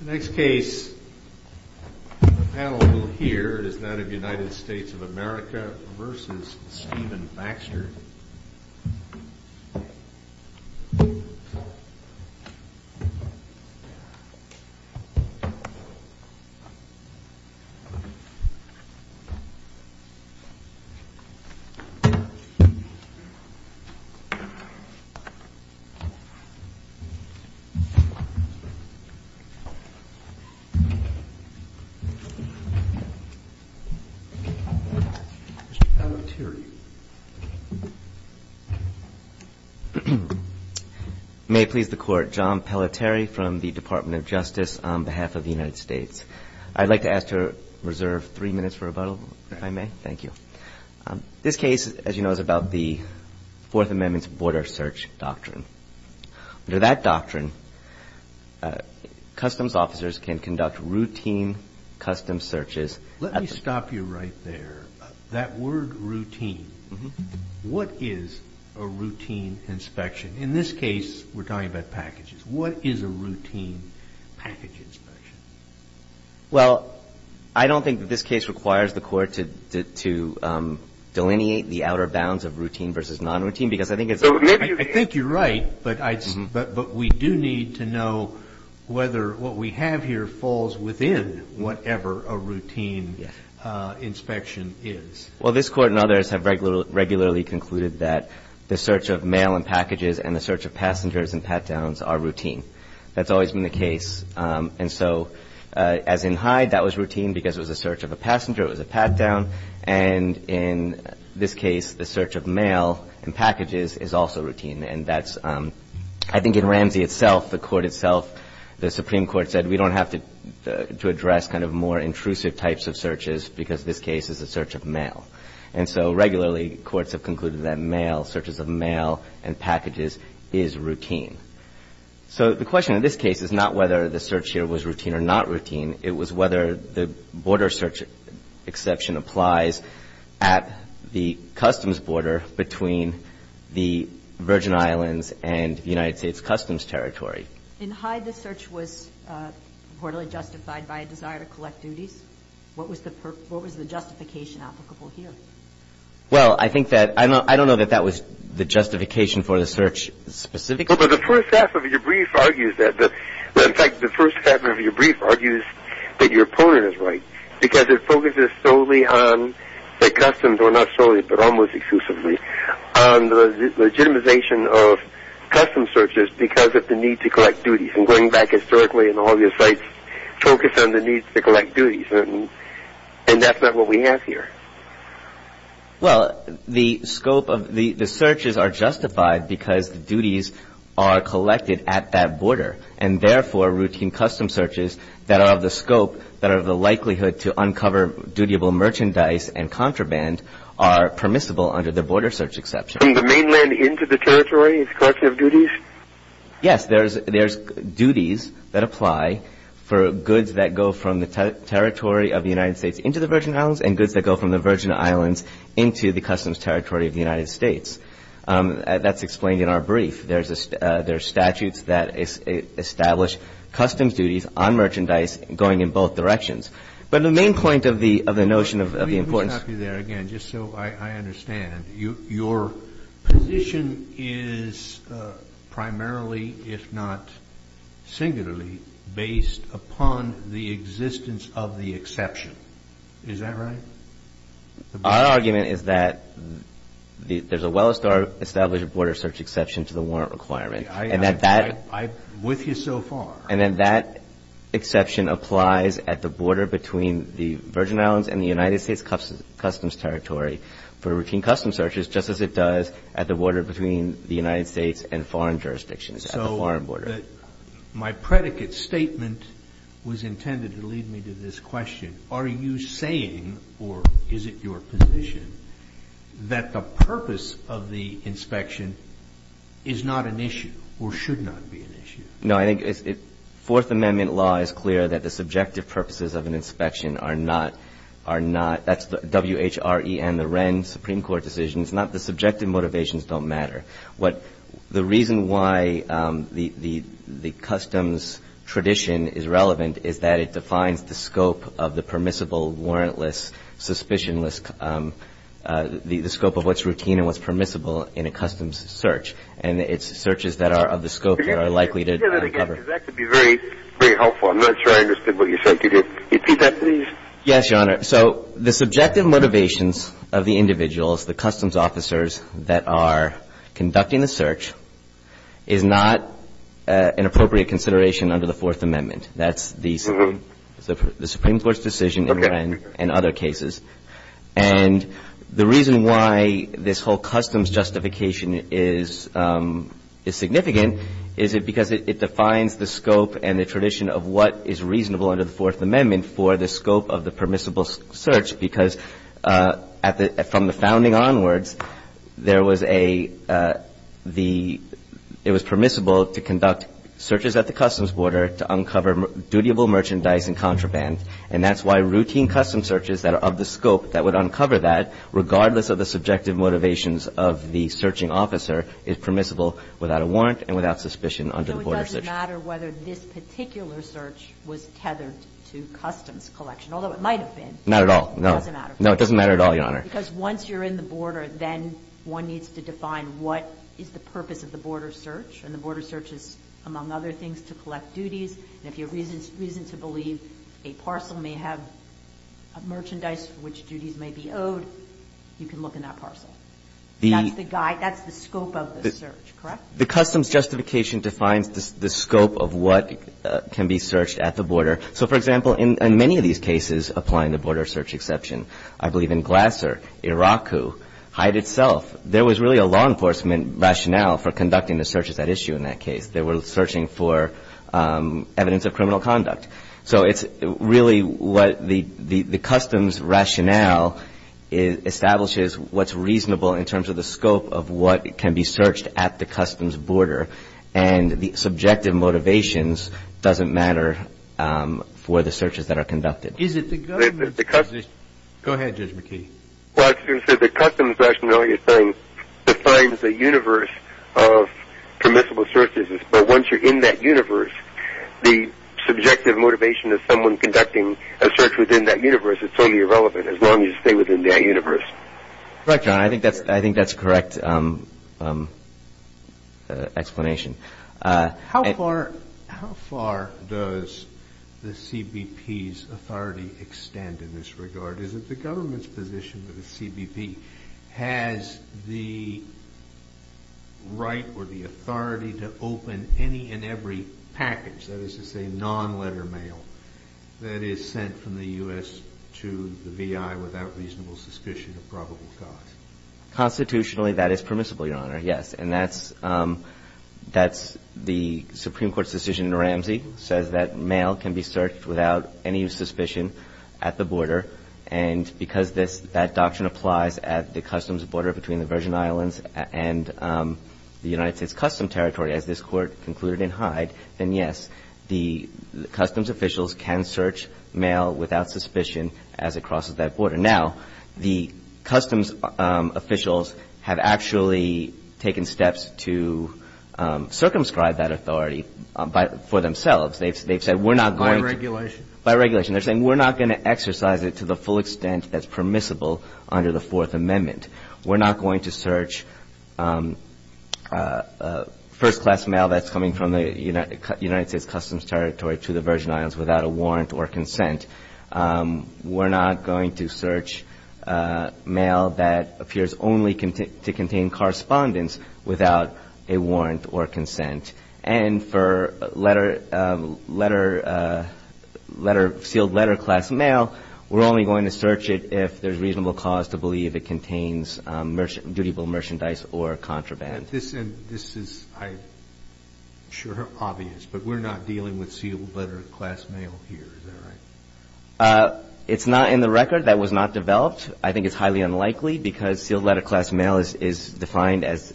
The next case on the panel here is that of United States of America v. Stephen Baxter. Mr. Pelletier May it please the Court, John Pelletier from the Department of Justice on behalf of the United States. I'd like to ask to reserve three minutes for rebuttal, if I may. Thank you. This case, as you know, is about the Fourth Amendment's border search doctrine. Under that doctrine, customs officers can conduct routine custom searches. Let me stop you right there. That word routine, what is a routine inspection? In this case, we're talking about packages. What is a routine package inspection? Well, I don't think that this case requires the Court to delineate the outer bounds of routine versus non-routine because I think it's I think you're right, but we do need to know whether what we have here falls within whatever a routine inspection is. Well, this Court and others have regularly concluded that the search of mail and packages and the search of passengers and pat-downs are routine. That's always been the case. And so as in Hyde, that was routine because it was a search of a passenger, it was a pat-down. And in this case, the search of mail and packages is also routine. And that's I think in Ramsey itself, the Court itself, the Supreme Court said we don't have to address kind of more intrusive types of searches because this case is a search of mail. And so regularly, courts have concluded that mail, searches of mail and packages, is routine. So the question in this case is not whether the search here was routine or not routine. It was whether the border search exception applies at the customs border between the Virgin Islands and the United States Customs Territory. In Hyde, the search was reportedly justified by a desire to collect duties. What was the justification applicable here? Well, I think that – I don't know that that was the justification for the search specifically. Well, but the first half of your brief argues that. In fact, the first half of your brief argues that your opponent is right because it focuses solely on the customs, or not solely, but almost exclusively, on the legitimization of customs searches because of the need to collect duties. And going back historically in all your sites, focus on the need to collect duties. And that's not what we have here. Well, the scope of – the searches are justified because the duties are collected at that border. And therefore, routine customs searches that are of the scope, that are of the likelihood, to uncover dutiable merchandise and contraband are permissible under the border search exception. From the mainland into the territory is a collection of duties? Yes, there's duties that apply for goods that go from the territory of the United States into the Virgin Islands and goods that go from the Virgin Islands into the customs territory of the United States. That's explained in our brief. There's statutes that establish customs duties on merchandise going in both directions. But the main point of the notion of the importance – Let me stop you there again just so I understand. Your position is primarily, if not singularly, based upon the existence of the exception. Is that right? Our argument is that there's a well-established border search exception to the warrant requirement. And that that – I'm with you so far. And then that exception applies at the border between the Virgin Islands and the United States customs territory for routine customs searches, just as it does at the border between the United States and foreign jurisdictions, at the foreign border. My predicate statement was intended to lead me to this question. Are you saying, or is it your position, that the purpose of the inspection is not an issue or should not be an issue? No, I think Fourth Amendment law is clear that the subjective purposes of an inspection are not – that's the WHRE and the Wren Supreme Court decisions. The subjective motivations don't matter. What – the reason why the customs tradition is relevant is that it defines the scope of the permissible, warrantless, suspicionless – the scope of what's routine and what's permissible in a customs search. And it's searches that are of the scope that are likely to cover. That could be very helpful. I'm not sure I understood what you said. Yes, Your Honor. So the subjective motivations of the individuals, the customs officers that are conducting the search, is not an appropriate consideration under the Fourth Amendment. That's the Supreme Court's decision in Wren and other cases. Okay. And the reason why this whole customs justification is significant is because it defines the scope and the tradition of what is reasonable under the Fourth Amendment for the scope of the permissible search, because at the – from the founding onwards, there was a – the – it was permissible to conduct searches at the customs border to uncover dutiable merchandise and contraband. And that's why routine customs searches that are of the scope that would uncover that, regardless of the subjective motivations of the searching officer, is permissible without a warrant and without suspicion under the border search. It doesn't matter whether this particular search was tethered to customs collection, although it might have been. Not at all. No. It doesn't matter. No, it doesn't matter at all, Your Honor. Because once you're in the border, then one needs to define what is the purpose of the border search. And the border search is, among other things, to collect duties. And if you have reason to believe a parcel may have merchandise for which duties may be owed, you can look in that parcel. That's the guide. That's the scope of the search, correct? The customs justification defines the scope of what can be searched at the border. So, for example, in many of these cases applying the border search exception, I believe in Glasser, Iraqu, Hyde itself, there was really a law enforcement rationale for conducting the searches at issue in that case. They were searching for evidence of criminal conduct. So it's really what the customs rationale establishes what's reasonable in terms of the scope of what can be searched at the customs border. And the subjective motivations doesn't matter for the searches that are conducted. Go ahead, Judge McKee. Well, as you said, the customs rationale defines the universe of permissible searches. But once you're in that universe, the subjective motivation of someone conducting a search within that universe is totally irrelevant as long as you stay within that universe. Correct, Your Honor. I think that's a correct explanation. How far does the CBP's authority extend in this regard? Is it the government's position that the CBP has the right or the authority to open any and every package, that is to say, non-letter mail that is sent from the U.S. to the V.I. without reasonable suspicion of probable cause? Constitutionally, that is permissible, Your Honor, yes. And that's the Supreme Court's decision in Ramsey says that mail can be searched without any suspicion at the border. And because that doctrine applies at the customs border between the Virgin Islands and the United States Customs Territory, as this Court concluded in Hyde, then yes, the customs officials can search mail without suspicion as it crosses that border. Now, the customs officials have actually taken steps to circumscribe that authority for themselves. They've said we're not going to be by regulation. They're saying we're not going to exercise it to the full extent that's permissible under the Fourth Amendment. We're not going to search first-class mail that's coming from the United States Customs Territory to the Virgin Islands without a warrant or consent. We're not going to search mail that appears only to contain correspondence without a warrant or consent. And for sealed letter-class mail, we're only going to search it if there's reasonable cause to believe it contains dutiful merchandise or contraband. This is, I'm sure, obvious, but we're not dealing with sealed letter-class mail here. Is that right? It's not in the record. That was not developed. I think it's highly unlikely because sealed letter-class mail is defined as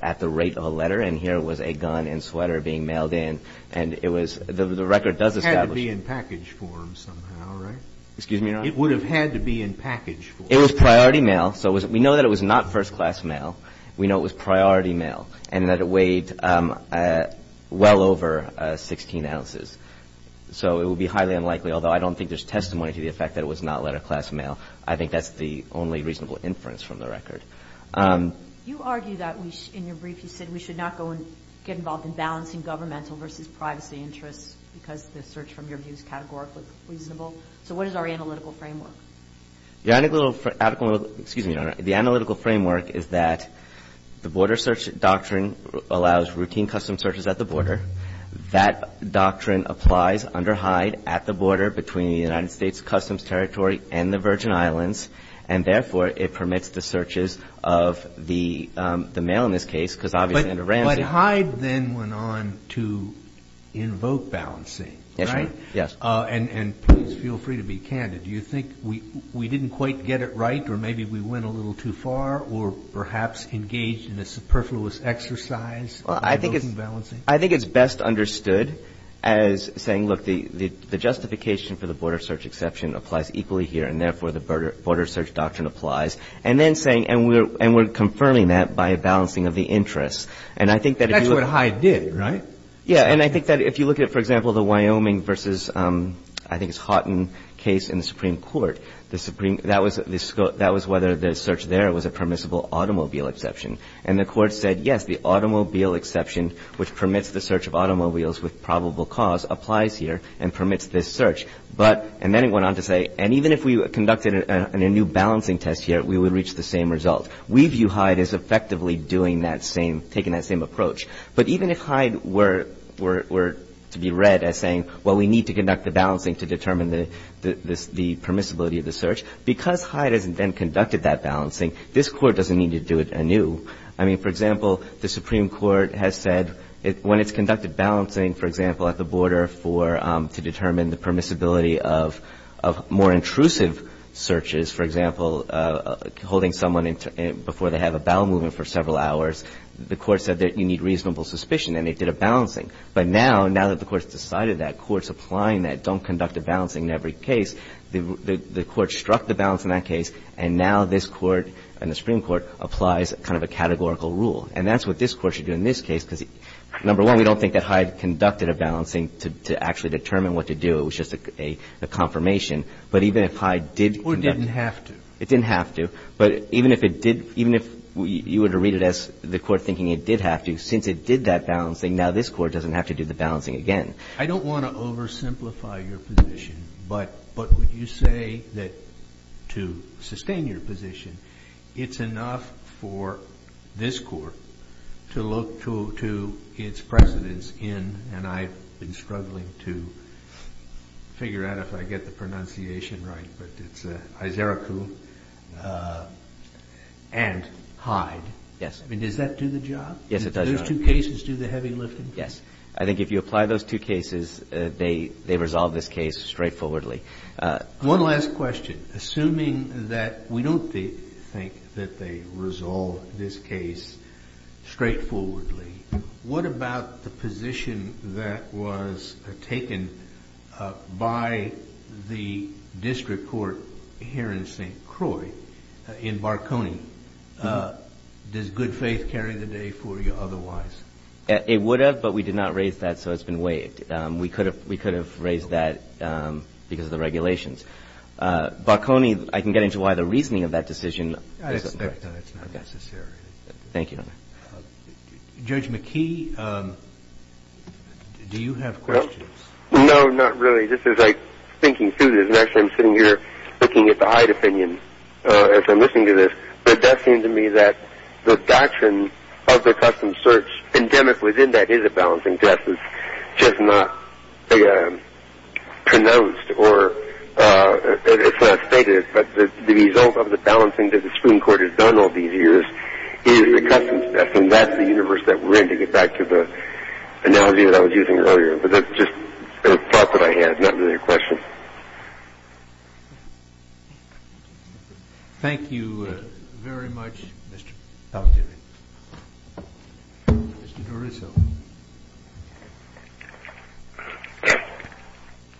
at the rate of a letter. And here was a gun and sweater being mailed in. And it was the record does establish it. It had to be in package form somehow, right? Excuse me, Your Honor? It would have had to be in package form. It was priority mail. So we know that it was not first-class mail. We know it was priority mail and that it weighed well over 16 ounces. So it would be highly unlikely, although I don't think there's testimony to the effect that it was not letter-class mail. I think that's the only reasonable inference from the record. You argue that in your brief you said we should not get involved in balancing governmental versus privacy interests because the search from your view is categorically reasonable. So what is our analytical framework? The analytical framework, excuse me, Your Honor, the analytical framework is that the border search doctrine allows routine custom searches at the border. That doctrine applies under Hyde at the border between the United States Customs Territory and the Virgin Islands. And therefore, it permits the searches of the mail in this case because obviously under Ramsey. But Hyde then went on to invoke balancing, right? Yes, Your Honor. And please feel free to be candid. Do you think we didn't quite get it right or maybe we went a little too far or perhaps engaged in a superfluous exercise in invoking balancing? I think it's best understood as saying, look, the justification for the border search exception applies equally here and therefore the border search doctrine applies. And then saying, and we're confirming that by a balancing of the interests. And I think that if you look at it. That's what Hyde did, right? Yeah. And I think that if you look at it, for example, the Wyoming versus I think it's the Supreme Court, that was whether the search there was a permissible automobile exception. And the court said, yes, the automobile exception which permits the search of automobiles with probable cause applies here and permits this search. But, and then it went on to say, and even if we conducted a new balancing test here, we would reach the same result. We view Hyde as effectively doing that same, taking that same approach. But even if Hyde were to be read as saying, well, we need to conduct the balancing to determine the permissibility of the search. Because Hyde has then conducted that balancing, this Court doesn't need to do it anew. I mean, for example, the Supreme Court has said when it's conducted balancing, for example, at the border for, to determine the permissibility of more intrusive searches, for example, holding someone before they have a bowel movement for several hours, the court said that you need reasonable suspicion and it did a balancing. But now, now that the Court's decided that, Court's applying that, don't conduct a balancing in every case, the Court struck the balance in that case and now this Court and the Supreme Court applies kind of a categorical rule. And that's what this Court should do in this case because, number one, we don't think that Hyde conducted a balancing to actually determine what to do. It was just a confirmation. But even if Hyde did conduct a balancing. Kennedy, or didn't have to. It didn't have to. But even if it did, even if you were to read it as the Court thinking it did have to, since it did that balancing, now this Court doesn't have to do the balancing again. I don't want to oversimplify your position. But would you say that to sustain your position, it's enough for this Court to look to its precedents in, and I've been struggling to figure out if I get the pronunciation right, but it's Izaruku and Hyde. I mean, does that do the job? Yes, it does, Your Honor. Do those two cases do the heavy lifting? Yes. I think if you apply those two cases, they resolve this case straightforwardly. One last question. Assuming that we don't think that they resolve this case straightforwardly, what about the position that was taken by the district court here in St. Croix, in Barconi? Does good faith carry the day for you otherwise? It would have, but we did not raise that, so it's been waived. We could have raised that because of the regulations. Barconi, I can get into why the reasoning of that decision. I expect that it's not necessary. Thank you, Your Honor. Judge McKee, do you have questions? No, not really. This is like thinking through this, and actually I'm sitting here looking at the Hyde As I'm listening to this, it does seem to me that the doctrine of the customs search endemic within that is a balancing test. It's just not pronounced or it's not stated, but the result of the balancing that the Supreme Court has done all these years is the customs test, and that's the universe that we're in, to get back to the analogy that I was using earlier. But that's just a thought that I had, not really a question. Thank you very much, Mr. Talkevich. Mr. DeRuzzo.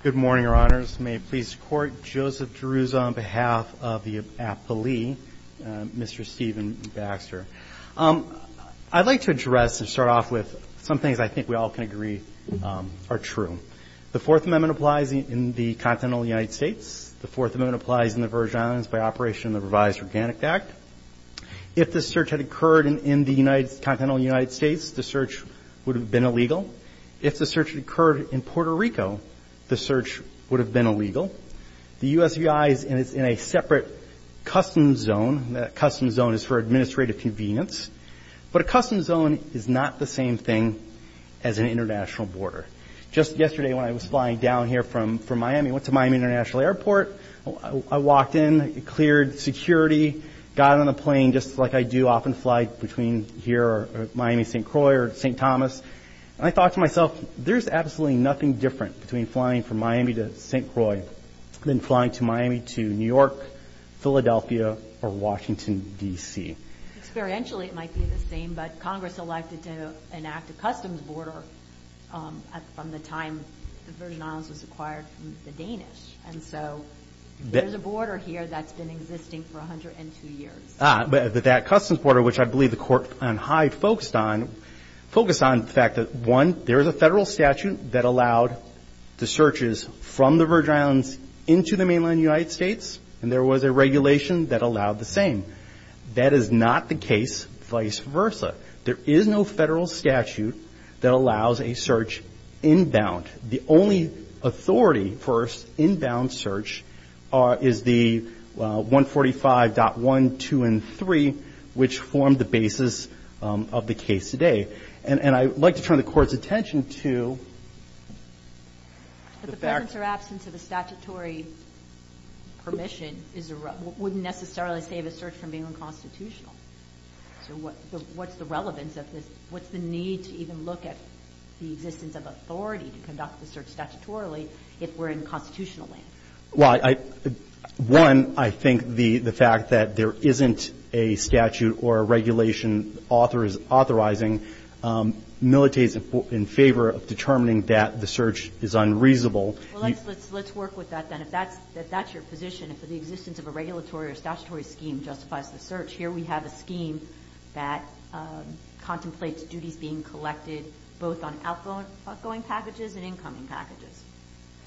Good morning, Your Honors. May it please the Court, Joseph DeRuzzo on behalf of the appellee, Mr. Stephen Baxter. I'd like to address and start off with some things I think we all can agree are true. The Fourth Amendment applies in the continental United States. The Fourth Amendment applies in the Virgin Islands by operation of the revised Organic Act. If the search had occurred in the continental United States, the search would have been illegal. If the search had occurred in Puerto Rico, the search would have been illegal. The USVI is in a separate customs zone. That customs zone is for administrative convenience. But a customs zone is not the same thing as an international border. Just yesterday when I was flying down here from Miami, went to Miami International Airport, I walked in, cleared security, got on a plane just like I do, often fly between here or Miami-St. Croix or St. Thomas, and I thought to myself, there's absolutely nothing different between flying from Miami to St. Croix than flying to Miami to New York, Philadelphia, or Washington, D.C. Experientially, it might be the same, but Congress elected to enact a customs border from the time the Virgin Islands was acquired from the Danish. And so there's a border here that's been existing for 102 years. But that customs border, which I believe the court on high focused on, focused on the fact that one, there is a federal statute that allowed the searches from the Virgin Islands into the mainland United States, and there was a regulation that allowed the same. That is not the case vice versa. There is no federal statute that allows a search inbound. The only authority for an inbound search is the 145.1, 2, and 3, which formed the basis of the case today. And I'd like to turn the Court's attention to the fact... But the presence or absence of a statutory permission wouldn't necessarily save a search from being unconstitutional. So what's the relevance of this? What's the need to even look at the existence of authority to conduct the search statutorily if we're in constitutional land? Well, one, I think the fact that there isn't a statute or a regulation authorizing militates in favor of determining that the search is unreasonable. Well, let's work with that then. If that's your position, if the existence of a regulatory or statutory scheme justifies the search, here we have a scheme that contemplates duties being collected both on outgoing packages and incoming packages.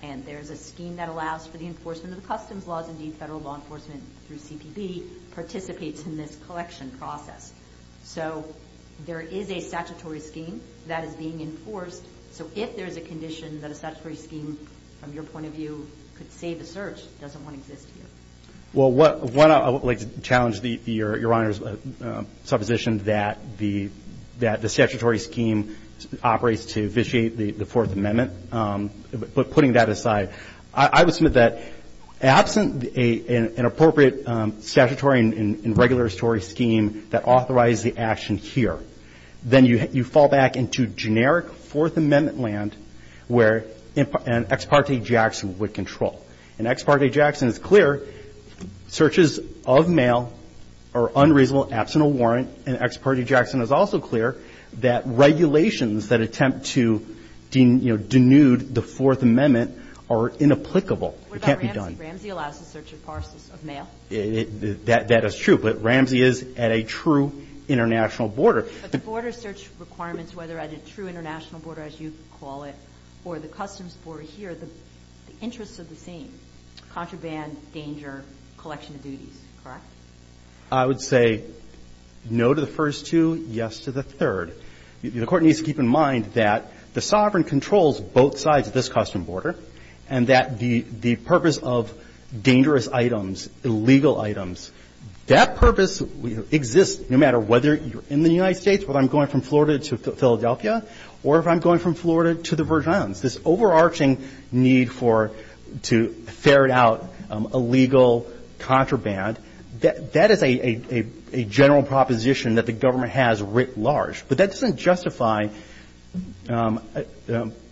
And there's a scheme that allows for the enforcement of the customs laws. Indeed, federal law enforcement through CPB participates in this collection process. So there is a statutory scheme that is being enforced. So if there's a condition that a statutory scheme, from your point of view, could save a search, it doesn't want to exist here. Well, one, I would like to challenge Your Honor's supposition that the statutory scheme operates to vitiate the Fourth Amendment. But putting that aside, I would submit that absent an appropriate statutory and regular story scheme that authorizes the action here, then you fall back into generic Fourth Amendment land where an ex parte Jackson would control. An ex parte Jackson is clear searches of mail are unreasonable, absent a warrant. An ex parte Jackson is also clear that regulations that attempt to, you know, denude the Fourth Amendment are inapplicable. It can't be done. What about Ramsey? Ramsey allows the search of parcels of mail. Well, that is true. But Ramsey is at a true international border. But the border search requirements, whether at a true international border, as you call it, or the customs border here, the interests are the same, contraband, danger, collection of duties. Correct? I would say no to the first two, yes to the third. The Court needs to keep in mind that the sovereign controls both sides of this custom border and that the purpose of dangerous items, illegal items, that purpose exists no matter whether you're in the United States, whether I'm going from Florida to Philadelphia, or if I'm going from Florida to the Virgin Islands. This overarching need for to ferret out illegal contraband, that is a general proposition that the government has writ large. But that doesn't justify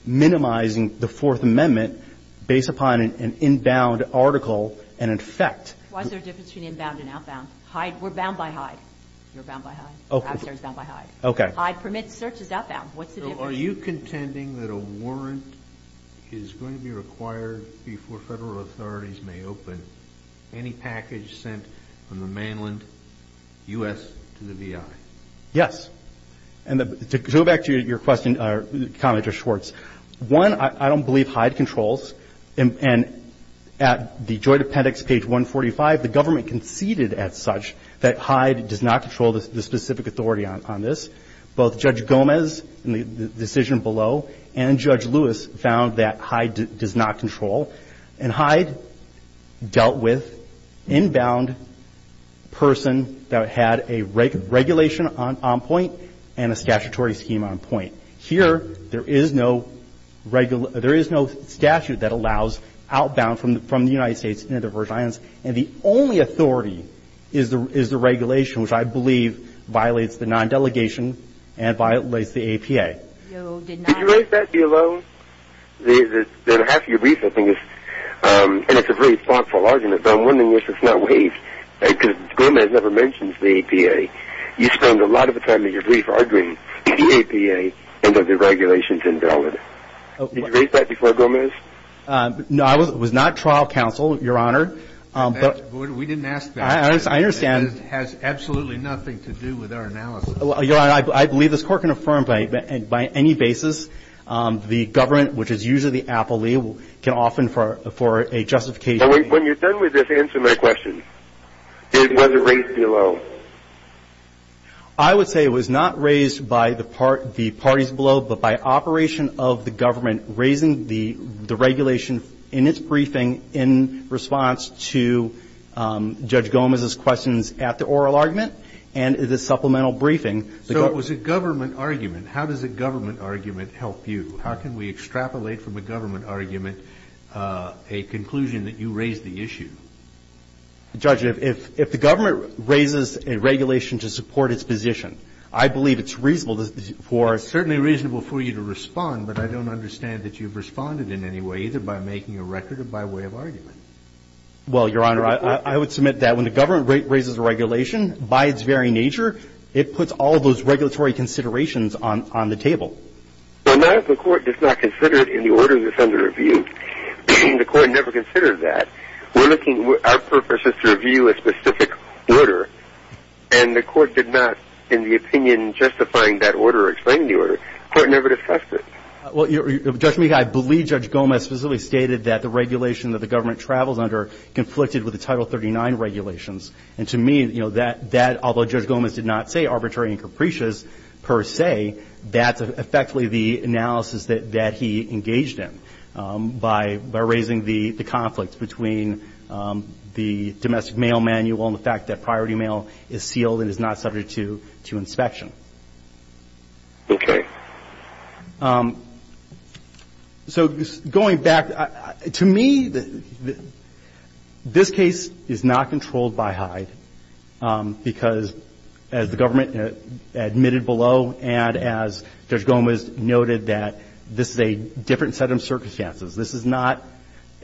minimizing the Fourth Amendment based upon an inbound article and effect. Why is there a difference between inbound and outbound? We're bound by Hyde. You're bound by Hyde. Okay. Hyde permits searches outbound. What's the difference? So are you contending that a warrant is going to be required before Federal authorities may open any package sent from the mainland U.S. to the V.I.? Yes. And to go back to your question or comment, Judge Schwartz, one, I don't believe Hyde controls. And at the Joint Appendix, page 145, the government conceded as such that Hyde does not control the specific authority on this. Both Judge Gomez in the decision below and Judge Lewis found that Hyde does not control. And Hyde dealt with inbound person that had a regulation on point. And a statutory scheme on point. Here, there is no statute that allows outbound from the United States into the Virgin Islands. And the only authority is the regulation, which I believe violates the non-delegation and violates the APA. No, it did not. Did you write that below? Half of your brief, I think, and it's a very thoughtful argument, but I'm wondering if it's not waived. Because Gomez never mentions the APA. You spend a lot of the time in your brief arguing the APA and whether the regulation is invalid. Did you raise that before, Gomez? No, I was not trial counsel, Your Honor. We didn't ask that. I understand. It has absolutely nothing to do with our analysis. Your Honor, I believe this Court can affirm by any basis the government, which is usually the appellee, can often for a justification. When you're done with this, answer my question. Was it raised below? I would say it was not raised by the parties below, but by operation of the government raising the regulation in its briefing in response to Judge Gomez's questions at the oral argument and the supplemental briefing. So it was a government argument. How does a government argument help you? How can we extrapolate from a government argument a conclusion that you raised the issue? Judge, if the government raises a regulation to support its position, I believe it's reasonable for you to respond, but I don't understand that you've responded in any way, either by making a record or by way of argument. Well, Your Honor, I would submit that when the government raises a regulation, by its very nature, it puts all those regulatory considerations on the table. Well, not if the Court does not consider it in the order that's under review. The Court never considered that. Our purpose is to review a specific order, and the Court did not, in the opinion justifying that order or explaining the order, the Court never discussed it. Well, Judge Meek, I believe Judge Gomez specifically stated that the regulation that the government travels under conflicted with the Title 39 regulations. And to me, that, although Judge Gomez did not say arbitrary and capricious per se, that's effectively the analysis that he engaged in by raising the conflict between the domestic mail manual and the fact that priority mail is sealed and is not subject to inspection. Okay. So going back, to me, this case is not controlled by Hyde because, as the government admitted below and as Judge Gomez noted, that this is a different set of circumstances. This is not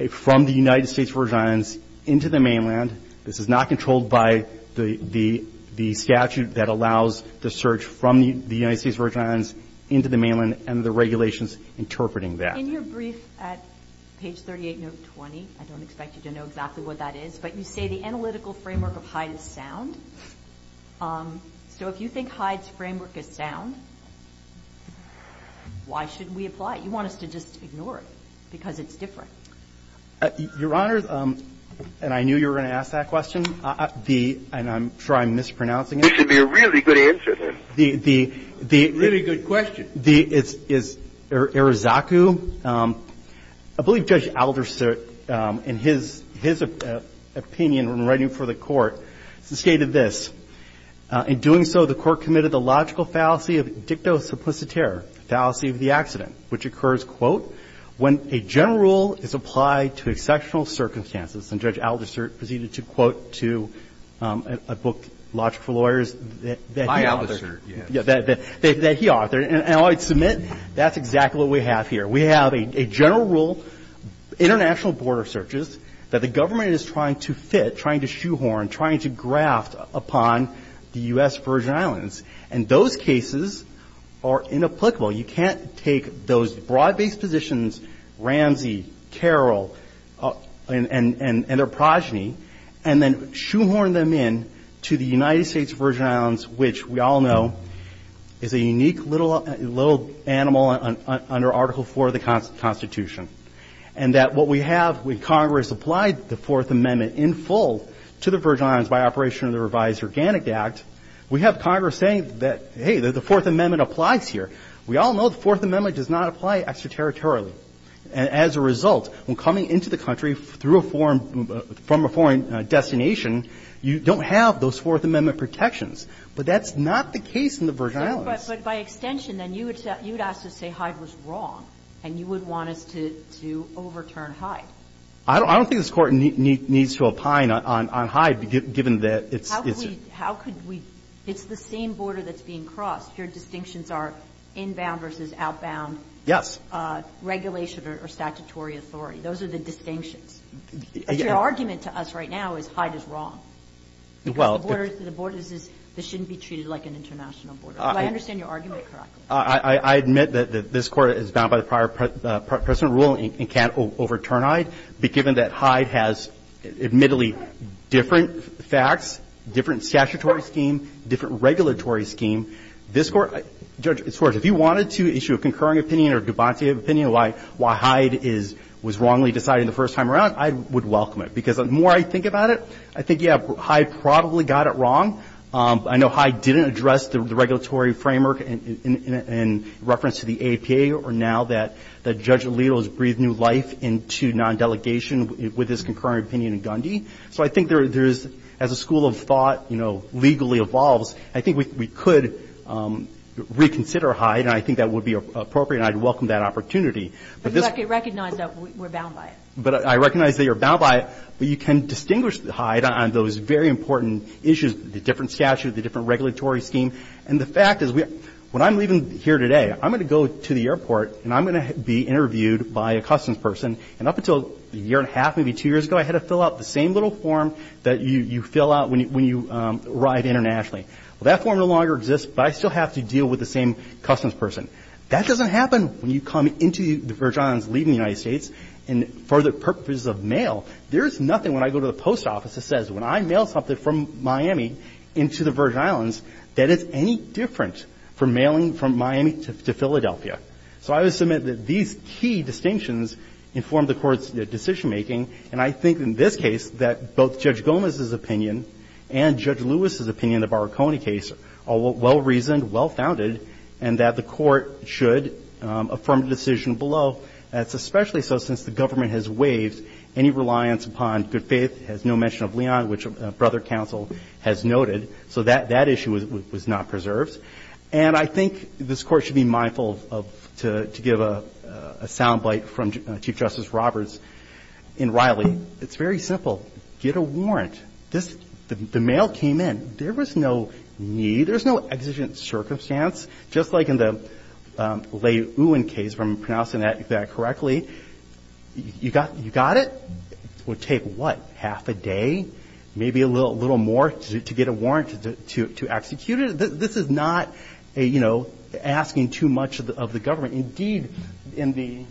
from the United States Virgin Islands into the mainland. This is not controlled by the statute that allows the search from the United States Virgin Islands into the mainland and the regulations interpreting that. In your brief at page 38, note 20, I don't expect you to know exactly what that is, but you say the analytical framework of Hyde is sound. So if you think Hyde's framework is sound, why shouldn't we apply it? You want us to just ignore it because it's different. Your Honor, and I knew you were going to ask that question, and I'm sure I'm mispronouncing it. This would be a really good answer, then. Really good question. It's Irizakou. I believe Judge Alderson, in his opinion when writing for the Court, stated this. In doing so, the Court committed the logical fallacy of dicto suppositere, fallacy of the accident, which occurs, quote, when a general rule is applied to exceptional circumstances. And Judge Alderson proceeded to quote to a book, Logic for Lawyers, that he authored. My Alderson, yes. That he authored. And I would submit that's exactly what we have here. We have a general rule, international border searches, that the government is trying to fit, trying to shoehorn, trying to graft upon the U.S. Virgin Islands. And those cases are inapplicable. You can't take those broad-based positions, Ramsey, Carroll, and their progeny, and then shoehorn them in to the United States Virgin Islands, which we all know is a unique little animal under Article IV of the Constitution. And that what we have when Congress applied the Fourth Amendment in full to the Virgin Islands by operation of the Revised Organic Act, we have Congress saying that, hey, the Fourth Amendment applies here. We all know the Fourth Amendment does not apply extraterritorially. And as a result, when coming into the country through a foreign – from a foreign destination, you don't have those Fourth Amendment protections. But that's not the case in the Virgin Islands. But by extension, then, you would ask to say Hyde was wrong, and you would want us to overturn Hyde. I don't think this Court needs to opine on Hyde, given that it's – it's – How could we – it's the same border that's being crossed. Your distinctions are inbound versus outbound. Yes. Regulation or statutory authority. Those are the distinctions. Your argument to us right now is Hyde is wrong. Well – And so you're saying that the reason that the border is – the border is – this shouldn't be treated like an international border. Do I understand your argument correctly? I admit that this Court is bound by the prior precedent ruling and can't overturn Hyde, but given that Hyde has, admittedly, different facts, different statutory scheme, different regulatory scheme, this Court – Judge, if you wanted to issue a concurring opinion or a debaunty opinion why Hyde is – was wrongly decided in the first time around, I would welcome it. Because the more I think about it, I think, yeah, Hyde probably got it wrong. I know Hyde didn't address the regulatory framework in reference to the AAPA or now that Judge Alito has breathed new life into non-delegation with his concurring opinion in Gundy. So I think there is – as a school of thought, you know, legally evolves, I think we could reconsider Hyde, and I think that would be appropriate, and I'd welcome that opportunity. But you recognize that we're bound by it. But I recognize that you're bound by it, but you can distinguish Hyde on those very important issues, the different statutes, the different regulatory scheme. And the fact is, when I'm leaving here today, I'm going to go to the airport and I'm going to be interviewed by a customs person, and up until a year and a half, maybe two years ago, I had to fill out the same little form that you fill out when you arrive internationally. Well, that form no longer exists, but I still have to deal with the same customs person. That doesn't happen when you come into the Virgin Islands, leaving the United States, and for the purposes of mail. There is nothing when I go to the post office that says when I mail something from Miami into the Virgin Islands that is any different from mailing from Miami to Philadelphia. So I would submit that these key distinctions inform the Court's decision-making, and I think in this case that both Judge Gomez's opinion and Judge Lewis's opinion in the Barraconi case are well-reasoned, well-founded, and that the Court should affirm the decision below. That's especially so since the government has waived any reliance upon good faith, has no mention of Leon, which Brother Counsel has noted. So that issue was not preserved. And I think this Court should be mindful of to give a sound bite from Chief Justice Roberts in Riley. It's very simple. Get a warrant. The mail came in. There was no need. There was no exigent circumstance. Just like in the Lei-Uwen case, if I'm pronouncing that correctly, you got it? It would take, what, half a day? Maybe a little more to get a warrant to execute it? This is not, you know, asking too much of the government. Indeed, in the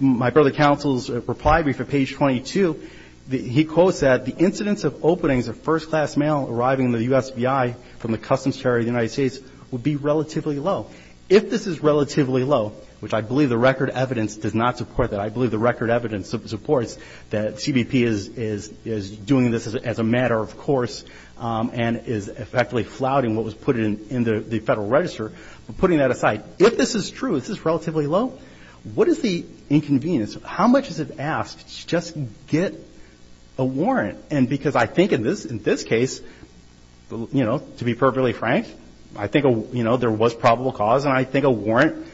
my Brother Counsel's reply brief at page 22, he quotes that, the incidence of openings of first-class mail arriving in the USBI from the Customs Charity of the United States would be relatively low. If this is relatively low, which I believe the record evidence does not support that, I believe the record evidence supports that CBP is doing this as a matter of putting that aside. If this is true, this is relatively low, what is the inconvenience? How much is it asked to just get a warrant? And because I think in this case, you know, to be perfectly frank, I think, you know, there was probable cause, and I think a warrant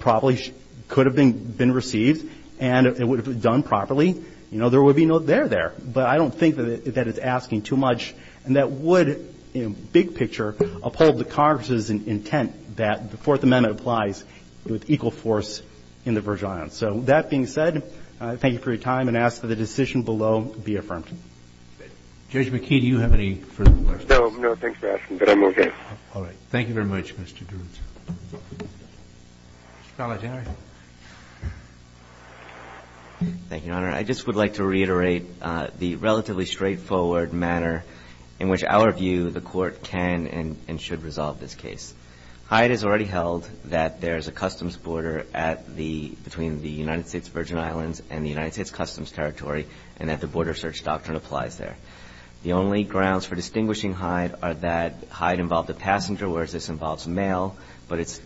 probably could have been received and it would have been done properly. You know, there would be no there there. But I don't think that it's asking too much. And that would, you know, big picture uphold the Congress's intent that the Fourth Amendment applies with equal force in the Virgin Islands. So that being said, thank you for your time and ask that the decision below be affirmed. Judge McKee, do you have any further questions? No, no, thanks for asking, but I'm okay. All right. Thank you very much, Mr. Jones. Mr. Palagianari. Thank you, Your Honor. I just would like to reiterate the relatively straightforward manner in which our view, the Court can and should resolve this case. Hyde has already held that there is a customs border at the, between the United States Virgin Islands and the United States Customs Territory and that the Border Search Doctrine applies there. The only grounds for distinguishing Hyde are that Hyde involved a passenger, whereas this involves mail, but it's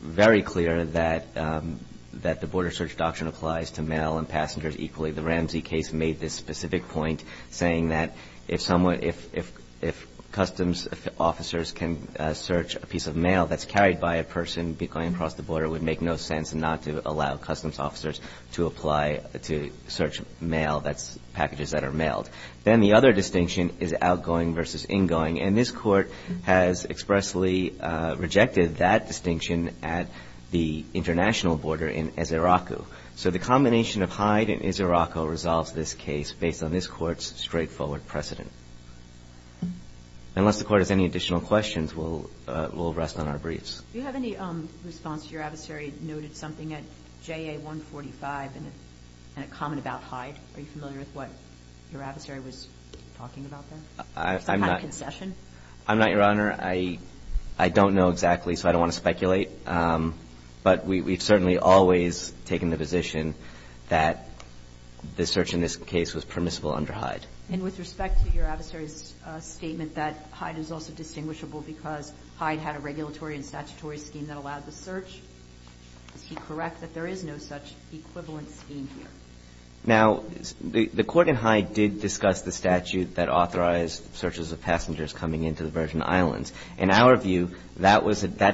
very clear that the Border Search Doctrine applies to mail and passengers equally. The Ramsey case made this specific point, saying that if someone, if customs officers can search a piece of mail that's carried by a person going across the border, it would make no sense not to allow customs officers to apply to search mail, that's packages that are mailed. Then the other distinction is outgoing versus ingoing, and this Court has expressly rejected that distinction at the international border in Israq. So the combination of Hyde and Israq resolves this case based on this Court's straightforward precedent. Unless the Court has any additional questions, we'll rest on our briefs. Do you have any response to your adversary noted something at JA 145 in a comment about Hyde? Are you familiar with what your adversary was talking about there? Some kind of concession? I'm not, Your Honor. I don't know exactly, so I don't want to speculate. But we've certainly always taken the position that the search in this case was permissible under Hyde. And with respect to your adversary's statement that Hyde is also distinguishable because Hyde had a regulatory and statutory scheme that allowed the search, is he correct that there is no such equivalent scheme here? Now, the Court in Hyde did discuss the statute that authorized searches of passengers coming into the Virgin Islands. In our view, that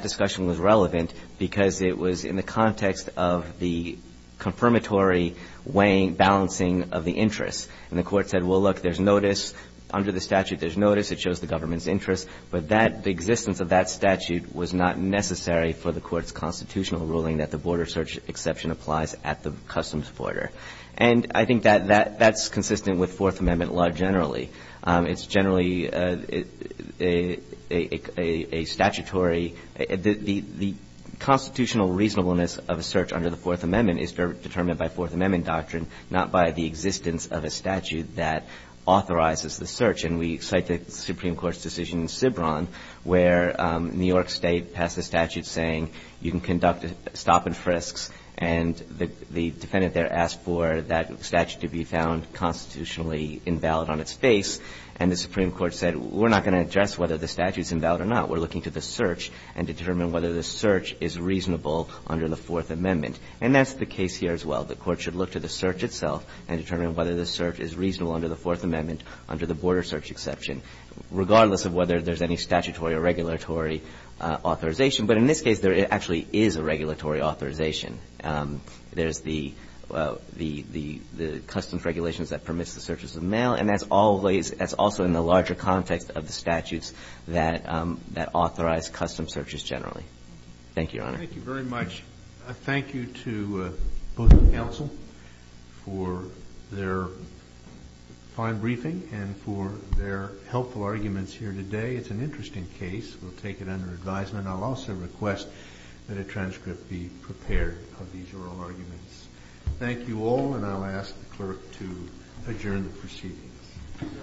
discussion was relevant because it was in the context of the confirmatory balancing of the interests. And the Court said, well, look, there's notice. Under the statute, there's notice. It shows the government's interest. But the existence of that statute was not necessary for the Court's constitutional ruling that the border search exception applies at the customs border. And I think that's consistent with Fourth Amendment law generally. It's generally a statutory – the constitutional reasonableness of a search under the Fourth Amendment is determined by Fourth Amendment doctrine, not by the existence of a statute that authorizes the search. And we cite the Supreme Court's decision in Cibron where New York State passed a statute saying you can conduct stop-and-frisks, and the defendant there asked for that statute to be found constitutionally invalid on its face. And the Supreme Court said, we're not going to address whether the statute's invalid or not. We're looking to the search and determine whether the search is reasonable under the Fourth Amendment. And that's the case here as well. The Court should look to the search itself and determine whether the search is reasonable under the Fourth Amendment under the border search exception, regardless of whether there's any statutory or regulatory authorization. But in this case, there actually is a regulatory authorization. There's the customs regulations that permits the searches of mail, and that's always – that's also in the larger context of the statutes that authorize custom searches generally. Thank you, Your Honor. Thank you very much. I thank you to both the counsel for their fine briefing and for their helpful arguments here today. It's an interesting case. We'll take it under advisement. And I'll also request that a transcript be prepared of these oral arguments. Thank you all, and I'll ask the clerk to adjourn the proceedings.